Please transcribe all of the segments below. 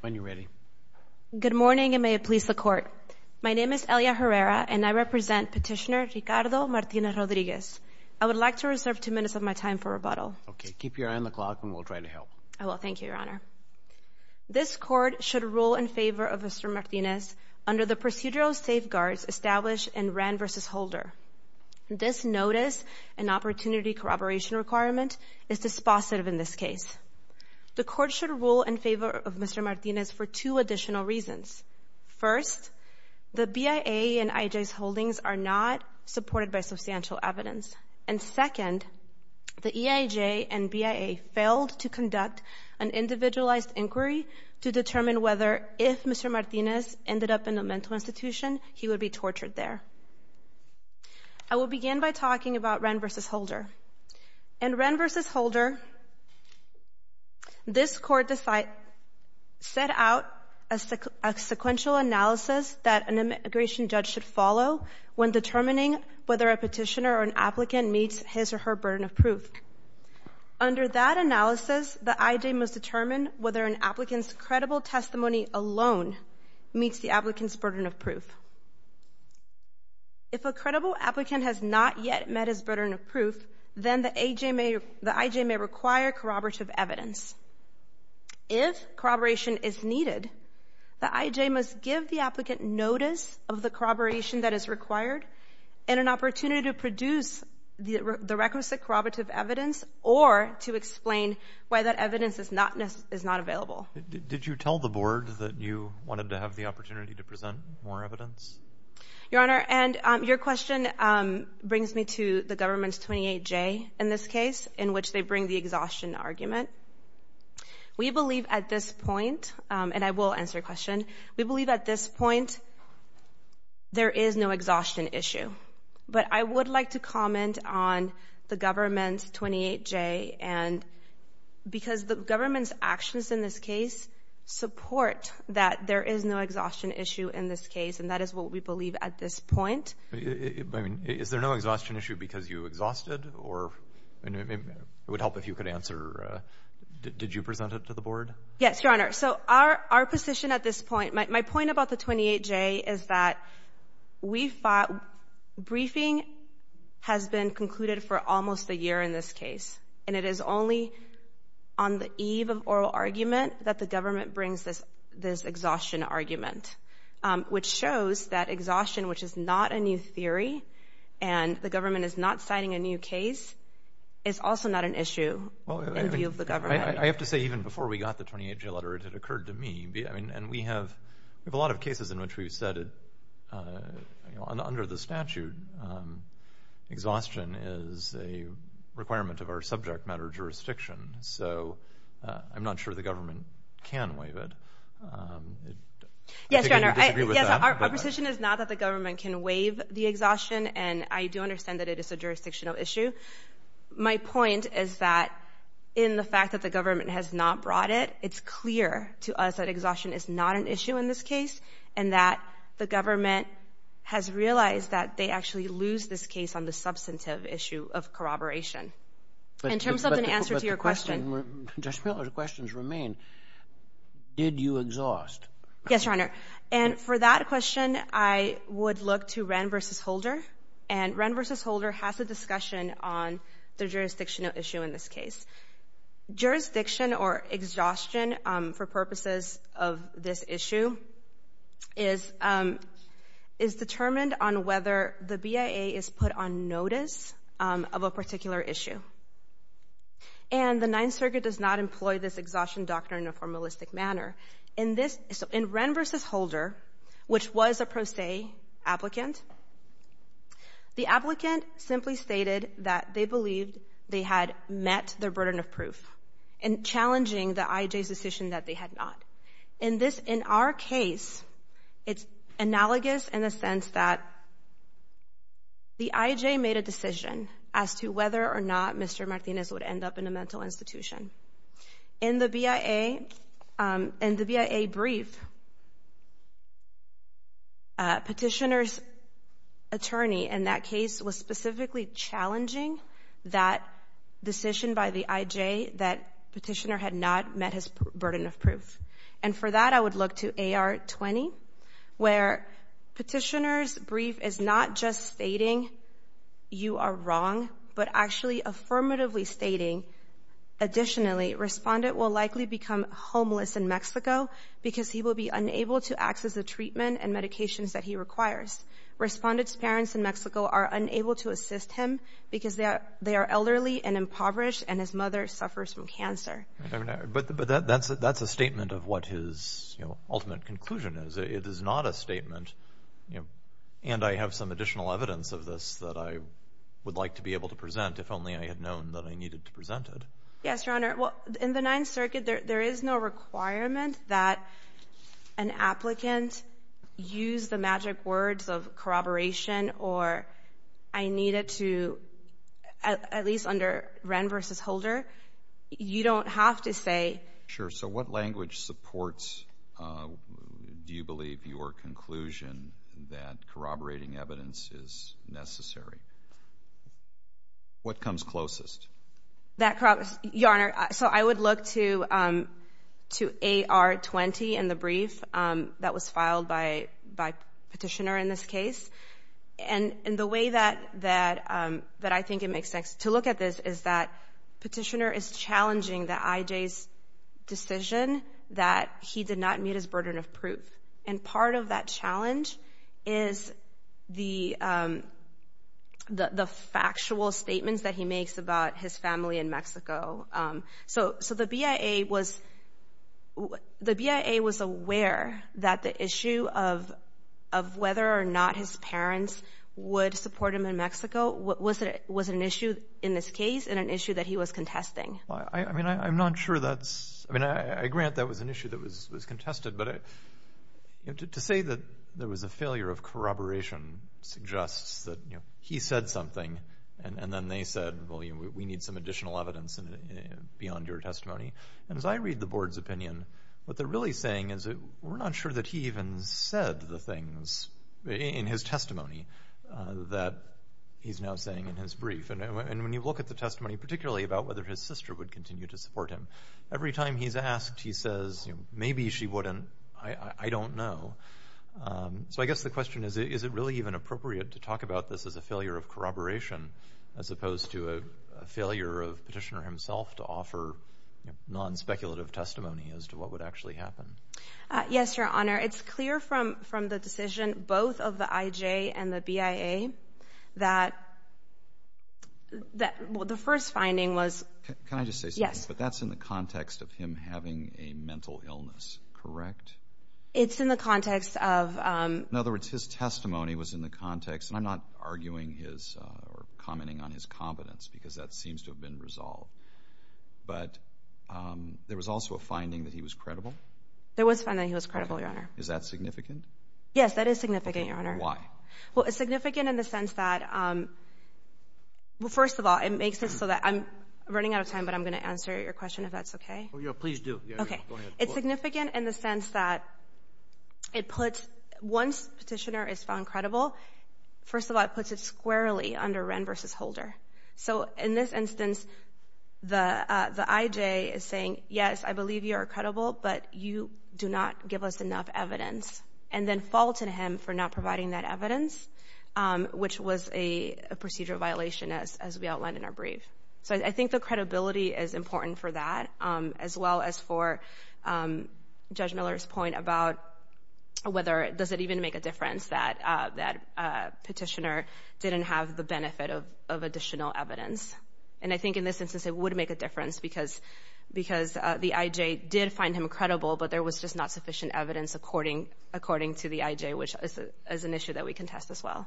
when you're ready. Good morning and may it please the court. My name is Elia Herrera and I represent petitioner Ricardo Martinez-Rodriguez. I would like to reserve two minutes of my time for rebuttal. Okay, keep your eye on the clock and we'll try to help. I will. Thank you, Your Honor. This court should rule in favor of Mr Martinez under the procedural safeguards established in Rand v. Holder. This notice and opportunity corroboration requirement is dispositive in this case. The court should rule in favor of Mr Martinez for two additional reasons. First, the BIA and IJ's holdings are not supported by substantial evidence. And second, the EIJ and BIA failed to conduct an individualized inquiry to determine whether if Mr Martinez ended up in a mental institution, he would be tortured there. I will begin by talking about Rand v. Holder. In Rand v. Holder, this Court set out a sequential analysis that an immigration judge should follow when determining whether a petitioner or an applicant meets his or her burden of proof. Under that analysis, the IJ must determine whether an applicant's credible testimony alone meets the applicant's burden of proof, then the IJ may require corroborative evidence. If corroboration is needed, the IJ must give the applicant notice of the corroboration that is required and an opportunity to produce the requisite corroborative evidence or to explain why that evidence is not available. Did you tell the Board that you wanted to have the opportunity to present more evidence? Your Honor, and your question brings me to the Government's 28J in this case, in which they bring the exhaustion argument. We believe at this point, and I will answer your question, we believe at this point there is no exhaustion issue. But I would like to comment on the Government's 28J and because the government's actions in this case support that there is no exhaustion issue in this case, and that is what we mean. Is there no exhaustion issue because you exhausted? It would help if you could answer. Did you present it to the Board? Yes, Your Honor. So our position at this point, my point about the 28J is that we thought briefing has been concluded for almost a year in this case, and it is only on the eve of oral argument that the government brings this exhaustion argument, which shows that exhaustion, which is not a new theory, and the government is not signing a new case, is also not an issue in view of the government. I have to say, even before we got the 28J letter, it occurred to me, and we have a lot of cases in which we've said, under the statute, exhaustion is a requirement of our subject matter jurisdiction. So I'm not sure the government can waive it. Yes, Your Honor, our position is not that the government can waive the exhaustion, and I do understand that it is a jurisdictional issue. My point is that in the fact that the government has not brought it, it's clear to us that exhaustion is not an issue in this case, and that the government has realized that they actually lose this case on the substantive issue of corroboration. In terms of an answer to your question. But the question, Judge Miller, the questions remain, did you exhaust? Yes, Your Honor. And for that question, I would look to Wren v. Holder. And Wren v. Holder has a discussion on the jurisdictional issue in this case. Jurisdiction or exhaustion for purposes of this issue is determined on whether the BIA is put on notice of a particular issue. And the Ninth Circuit does not employ this exhaustion doctrine in a formalistic manner. In this, in Wren v. Holder, which was a pro se applicant, the applicant simply stated that they believed they had met their burden of proof in challenging the IJ's decision that they had not. In this, in our case, it's analogous in the sense that the IJ made a decision as to whether or not Mr. Martinez would end up in a mental institution. In the BIA, in the BIA brief, Petitioner's attorney in that case was specifically challenging that decision by the IJ that Petitioner had not met his burden of proof. And for that, I would look to AR 20, where Petitioner's brief is not just stating you are wrong, but actually affirmatively stating, additionally, Respondent will likely become homeless in Mexico because he will be unable to access the treatment and medications that he requires. Respondent's parents in Mexico are unable to assist him because they are elderly and impoverished and his mother suffers from cancer. But that's a statement of what his ultimate conclusion is. It is not a statement, and I have some additional evidence of this that I would like to be able to present if only I had known that I needed to present it. Yes, Your Honor. Well, in the Ninth Circuit, there is no requirement that an applicant use the magic words of corroboration or I needed to, at least under Wren v. Holder, you don't have to say Sure. So what language supports, do you believe, your conclusion that corroborating evidence is necessary? What comes closest? That corroborates, Your Honor, so I would look to AR 20 and the brief that was filed by Petitioner in this case. And the way that I think it makes sense to look at this is that Petitioner is challenging the IJ's decision that he did not meet his burden of proof. And part of that challenge is the factual statements that he makes about his family in Mexico. So the BIA was aware that the issue of whether or not his parents would support him in Mexico was an issue in this case and an issue that he was contesting. I mean, I'm not sure that's, I mean, I grant that was an issue that was contested, but to say that there was a failure of corroboration suggests that, you know, he said something and then they said, well, we need some additional evidence beyond your testimony. And as I read the Board's opinion, what they're really saying is that we're not sure that he even said the testimony that he's now saying in his brief. And when you look at the testimony, particularly about whether his sister would continue to support him, every time he's asked, he says, maybe she wouldn't, I don't know. So I guess the question is, is it really even appropriate to talk about this as a failure of corroboration as opposed to a failure of Petitioner himself to offer non-speculative testimony as to what would actually happen? Yes, Your Honor. It's clear from the decision both of the IJ and the BIA that the first finding was... Can I just say something? Yes. But that's in the context of him having a mental illness, correct? It's in the context of... In other words, his testimony was in the context, and I'm not arguing his or commenting on his competence because that seems to have been resolved, but there was also a finding that he was credible? There was a finding that he was credible, Your Honor. Is that significant? Yes, that is significant, Your Honor. Why? Well, it's significant in the sense that, well, first of all, it makes it so that I'm running out of time, but I'm going to answer your question if that's okay. Oh, yeah, please do. Okay. Go ahead. It's significant in the sense that it puts, once Petitioner is found credible, first of all, it puts it squarely under Wren v. Holder. So in this instance, the IJ is saying, yes, I believe you are credible, but you do not give us enough evidence, and then faults in him for not providing that evidence, which was a procedure violation, as we outlined in our brief. So I think the credibility is important for that, as well as for Judge Miller's point about whether does it even make a difference that Petitioner didn't have the benefit of additional evidence. And I think in this instance, it would make a difference because the IJ did find him credible, but there was just not sufficient evidence according to the IJ, which is an issue that we can test, as well.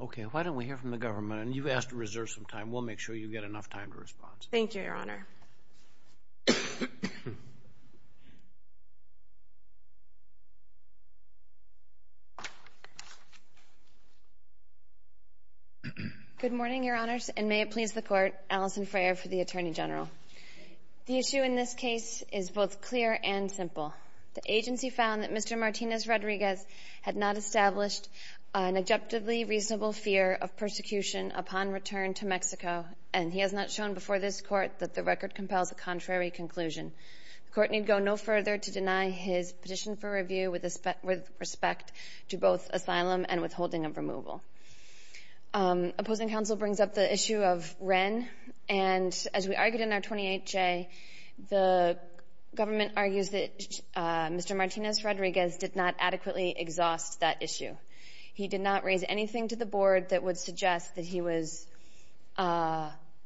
Okay. Why don't we hear from the government? And you've asked to reserve some time. We'll make sure you get enough time to respond. Thank you, Your Honor. Good morning, Your Honors, and may it please the Court, Alison Freyre for the Attorney General. The issue in this case is both clear and simple. The agency found that Mr. Martinez Rodriguez had not established an objectively reasonable fear of persecution upon return to Mexico, and he has not shown before this Court that the record compels a contrary conclusion. The Court need go no further to deny his petition for review with respect to both asylum and withholding of removal. Opposing counsel brings up the issue of Wren, and as we argued in our 28-J, the government argues that Mr. Martinez Rodriguez did not adequately exhaust that issue. He did not raise anything to the Board that would suggest that he was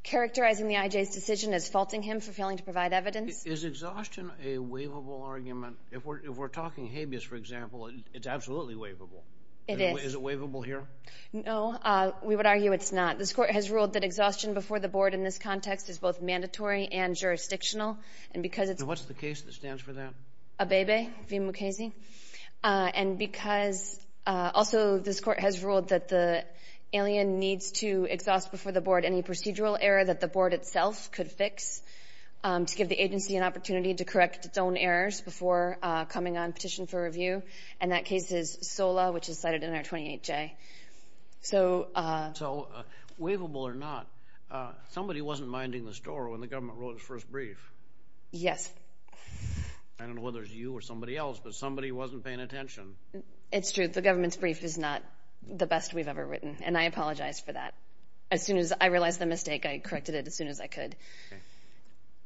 characterizing the issue as faulting him for failing to provide evidence. Is exhaustion a waivable argument? If we're talking habeas, for example, it's absolutely waivable. It is. Is it waivable here? No. We would argue it's not. This Court has ruled that exhaustion before the Board in this context is both mandatory and jurisdictional, and because it's... What's the case that stands for that? Abebe v. Mukasey. And because... Also, this Court has ruled that the alien needs to exhaust before the Board any procedural error that the Board itself could fix to give the agency an opportunity to correct its own errors before coming on petition for review, and that case is SOLA, which is cited in our 28-J. So... So, waivable or not, somebody wasn't minding the store when the government wrote its first brief. Yes. I don't know whether it was you or somebody else, but somebody wasn't paying attention. It's true. The government's brief is not the best we've ever written, and I apologize for that. As soon as I realized the mistake, I corrected it as soon as I could.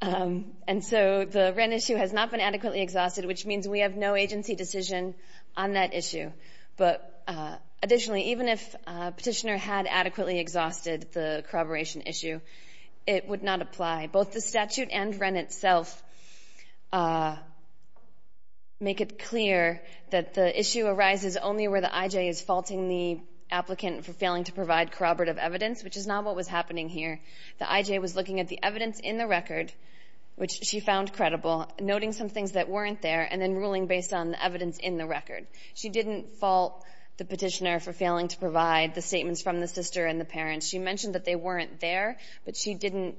And so, the Wren issue has not been adequately exhausted, which means we have no agency decision on that issue. But additionally, even if a petitioner had adequately exhausted the corroboration issue, it would not apply. Both the statute and Wren itself make it clear that the issue arises only where the I.J. is faulting the applicant for failing to provide corroborative evidence, which is not what was happening here. The I.J. was looking at the evidence in the record, which she found credible, noting some things that weren't there, and then ruling based on the evidence in the record. She didn't fault the petitioner for failing to provide the statements from the sister and the parents. She mentioned that they weren't there, but she didn't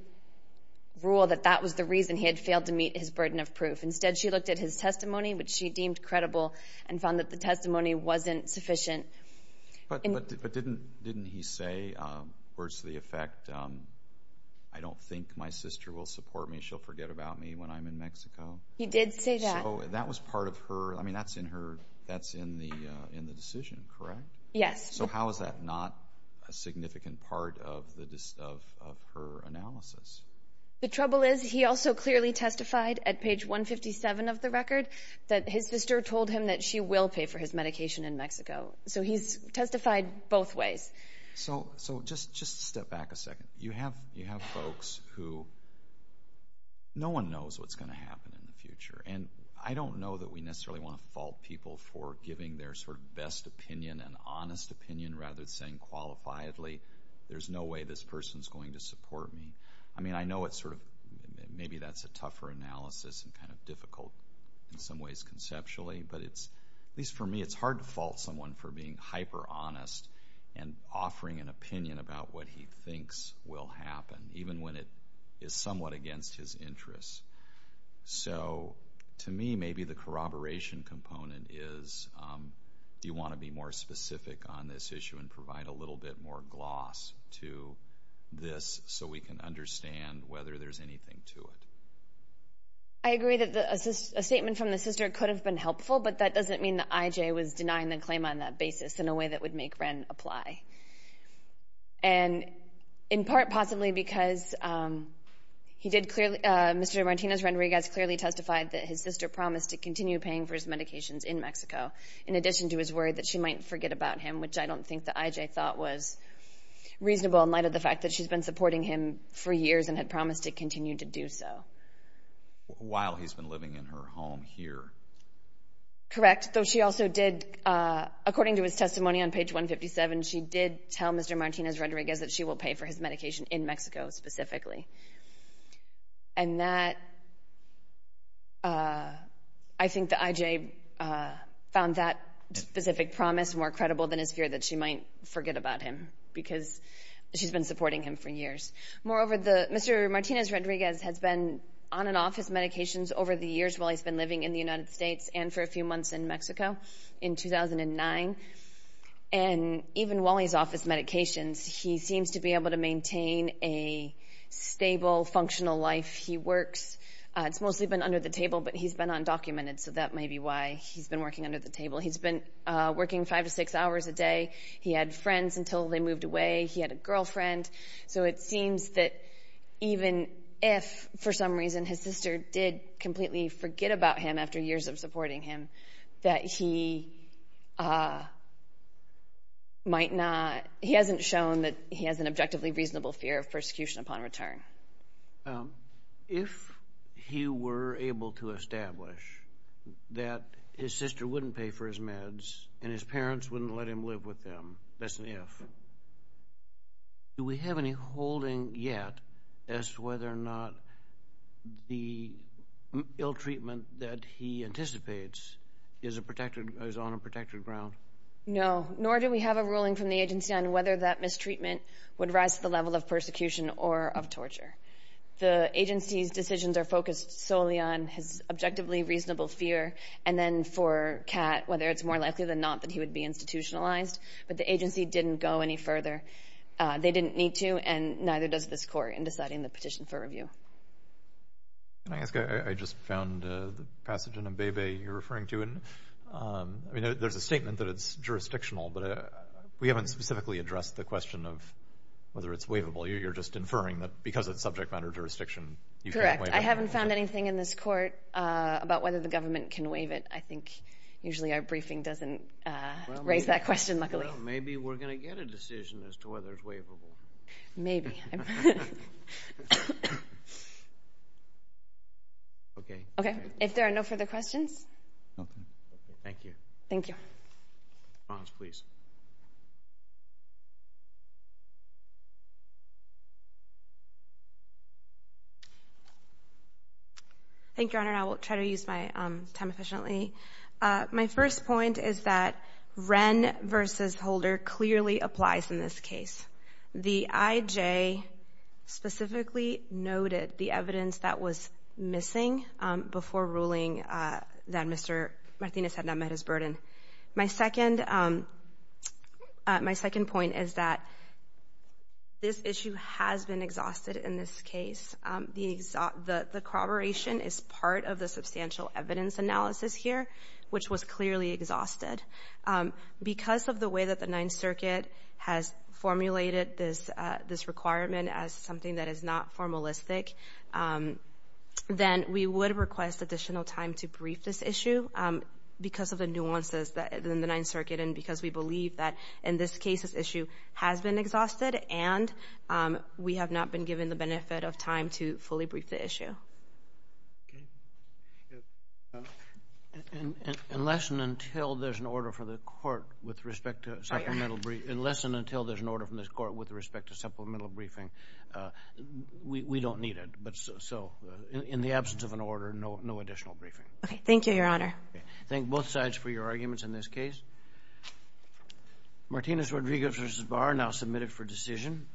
rule that that was the reason he had failed to meet his burden of proof. Instead, she looked at his testimony, which she deemed credible, and found that the testimony wasn't sufficient. But didn't he say, words to the effect, I don't think my sister will support me. She'll forget about me when I'm in Mexico? He did say that. So, that was part of her, I mean, that's in her, that's in the decision, correct? Yes. So, how is that not a significant part of her analysis? The trouble is, he also clearly testified at page 157 of the record that his sister told him that she will pay for his medication in Mexico. So, he's testified both ways. So, just step back a second. You have folks who, no one knows what's going to happen in the future. And I don't know that we necessarily want to fault people for giving their sort of best opinion, an honest opinion, rather than saying qualifiably, there's no way this person's going to support me. I mean, I know it's sort of, maybe that's a tougher analysis and kind of difficult in a way, but it's, at least for me, it's hard to fault someone for being hyper-honest and offering an opinion about what he thinks will happen, even when it is somewhat against his interests. So, to me, maybe the corroboration component is, do you want to be more specific on this issue and provide a little bit more gloss to this so we can understand whether there's anything to it? I agree that a statement from the sister could have been helpful, but that doesn't mean that I.J. was denying the claim on that basis in a way that would make Wren apply. And in part, possibly because he did clearly, Mr. Martinez-Renriquez clearly testified that his sister promised to continue paying for his medications in Mexico, in addition to his worry that she might forget about him, which I don't think that I.J. thought was reasonable in light of the fact that she's been supporting him for years and had promised to continue to do so. While he's been living in her home here. Correct. Though she also did, according to his testimony on page 157, she did tell Mr. Martinez-Renriquez that she will pay for his medication in Mexico specifically. And that, I think that I.J. found that specific promise more credible than his fear that she might forget about him because she's been supporting him for years. Moreover, Mr. Martinez-Renriquez has been on and off his medications over the years while he's been living in the United States and for a few months in Mexico in 2009. And even while he's off his medications, he seems to be able to maintain a stable, functional life. He works. It's mostly been under the table, but he's been undocumented, so that may be why he's been working under the table. He's been working five to six hours a day. He had friends until they moved away. He had a girlfriend. So it seems that even if, for some reason, his sister did completely forget about him after years of supporting him, that he might not. He hasn't shown that he has an objectively reasonable fear of persecution upon return. If he were able to establish that his sister wouldn't pay for his meds and his parents wouldn't let him live with them, that's an if, do we have any holding yet as to whether or not the ill-treatment that he anticipates is on a protected ground? No, nor do we have a ruling from the agency on whether that mistreatment would rise to the level of persecution or of torture. The agency's decisions are focused solely on his objectively reasonable fear, and then for Kat, whether it's more likely than not that he would be institutionalized, but the agency didn't go any further. They didn't need to, and neither does this court in deciding the petition for review. Can I ask, I just found the passage in Mbebe you're referring to, and there's a statement that it's jurisdictional, but we haven't specifically addressed the question of whether it's waivable. You're just inferring that because it's subject matter jurisdiction, you can't waive it. Correct. I haven't found anything in this court about whether the government can waive it. I think usually our briefing doesn't raise that question, luckily. Maybe we're going to get a decision as to whether it's waivable. If there are no further questions, thank you. Thank you, Your Honor. I will try to use my time efficiently. My first point is that Wren versus Holder clearly applies in this case. The IJ specifically noted the evidence that was missing before ruling that Mr. Martinez had not met his burden. My second point is that this issue has been exhausted in this case. The corroboration is part of the substantial evidence analysis here, which was clearly exhausted. Because of the way that the Ninth Circuit has formulated this requirement as something that is not formalistic, then we would request additional time to brief this issue because of the nuances in the Ninth Circuit and because we believe that in this case this issue has been exhausted and we have not been given the benefit of time to fully brief the issue. Unless and until there's an order from this court with respect to supplemental briefing, we don't need it. In the absence of an order, no additional briefing. Thank you, Your Honor. Thank both sides for your arguments in this case. Martinez-Rodriguez v. Barr now submitted for decision.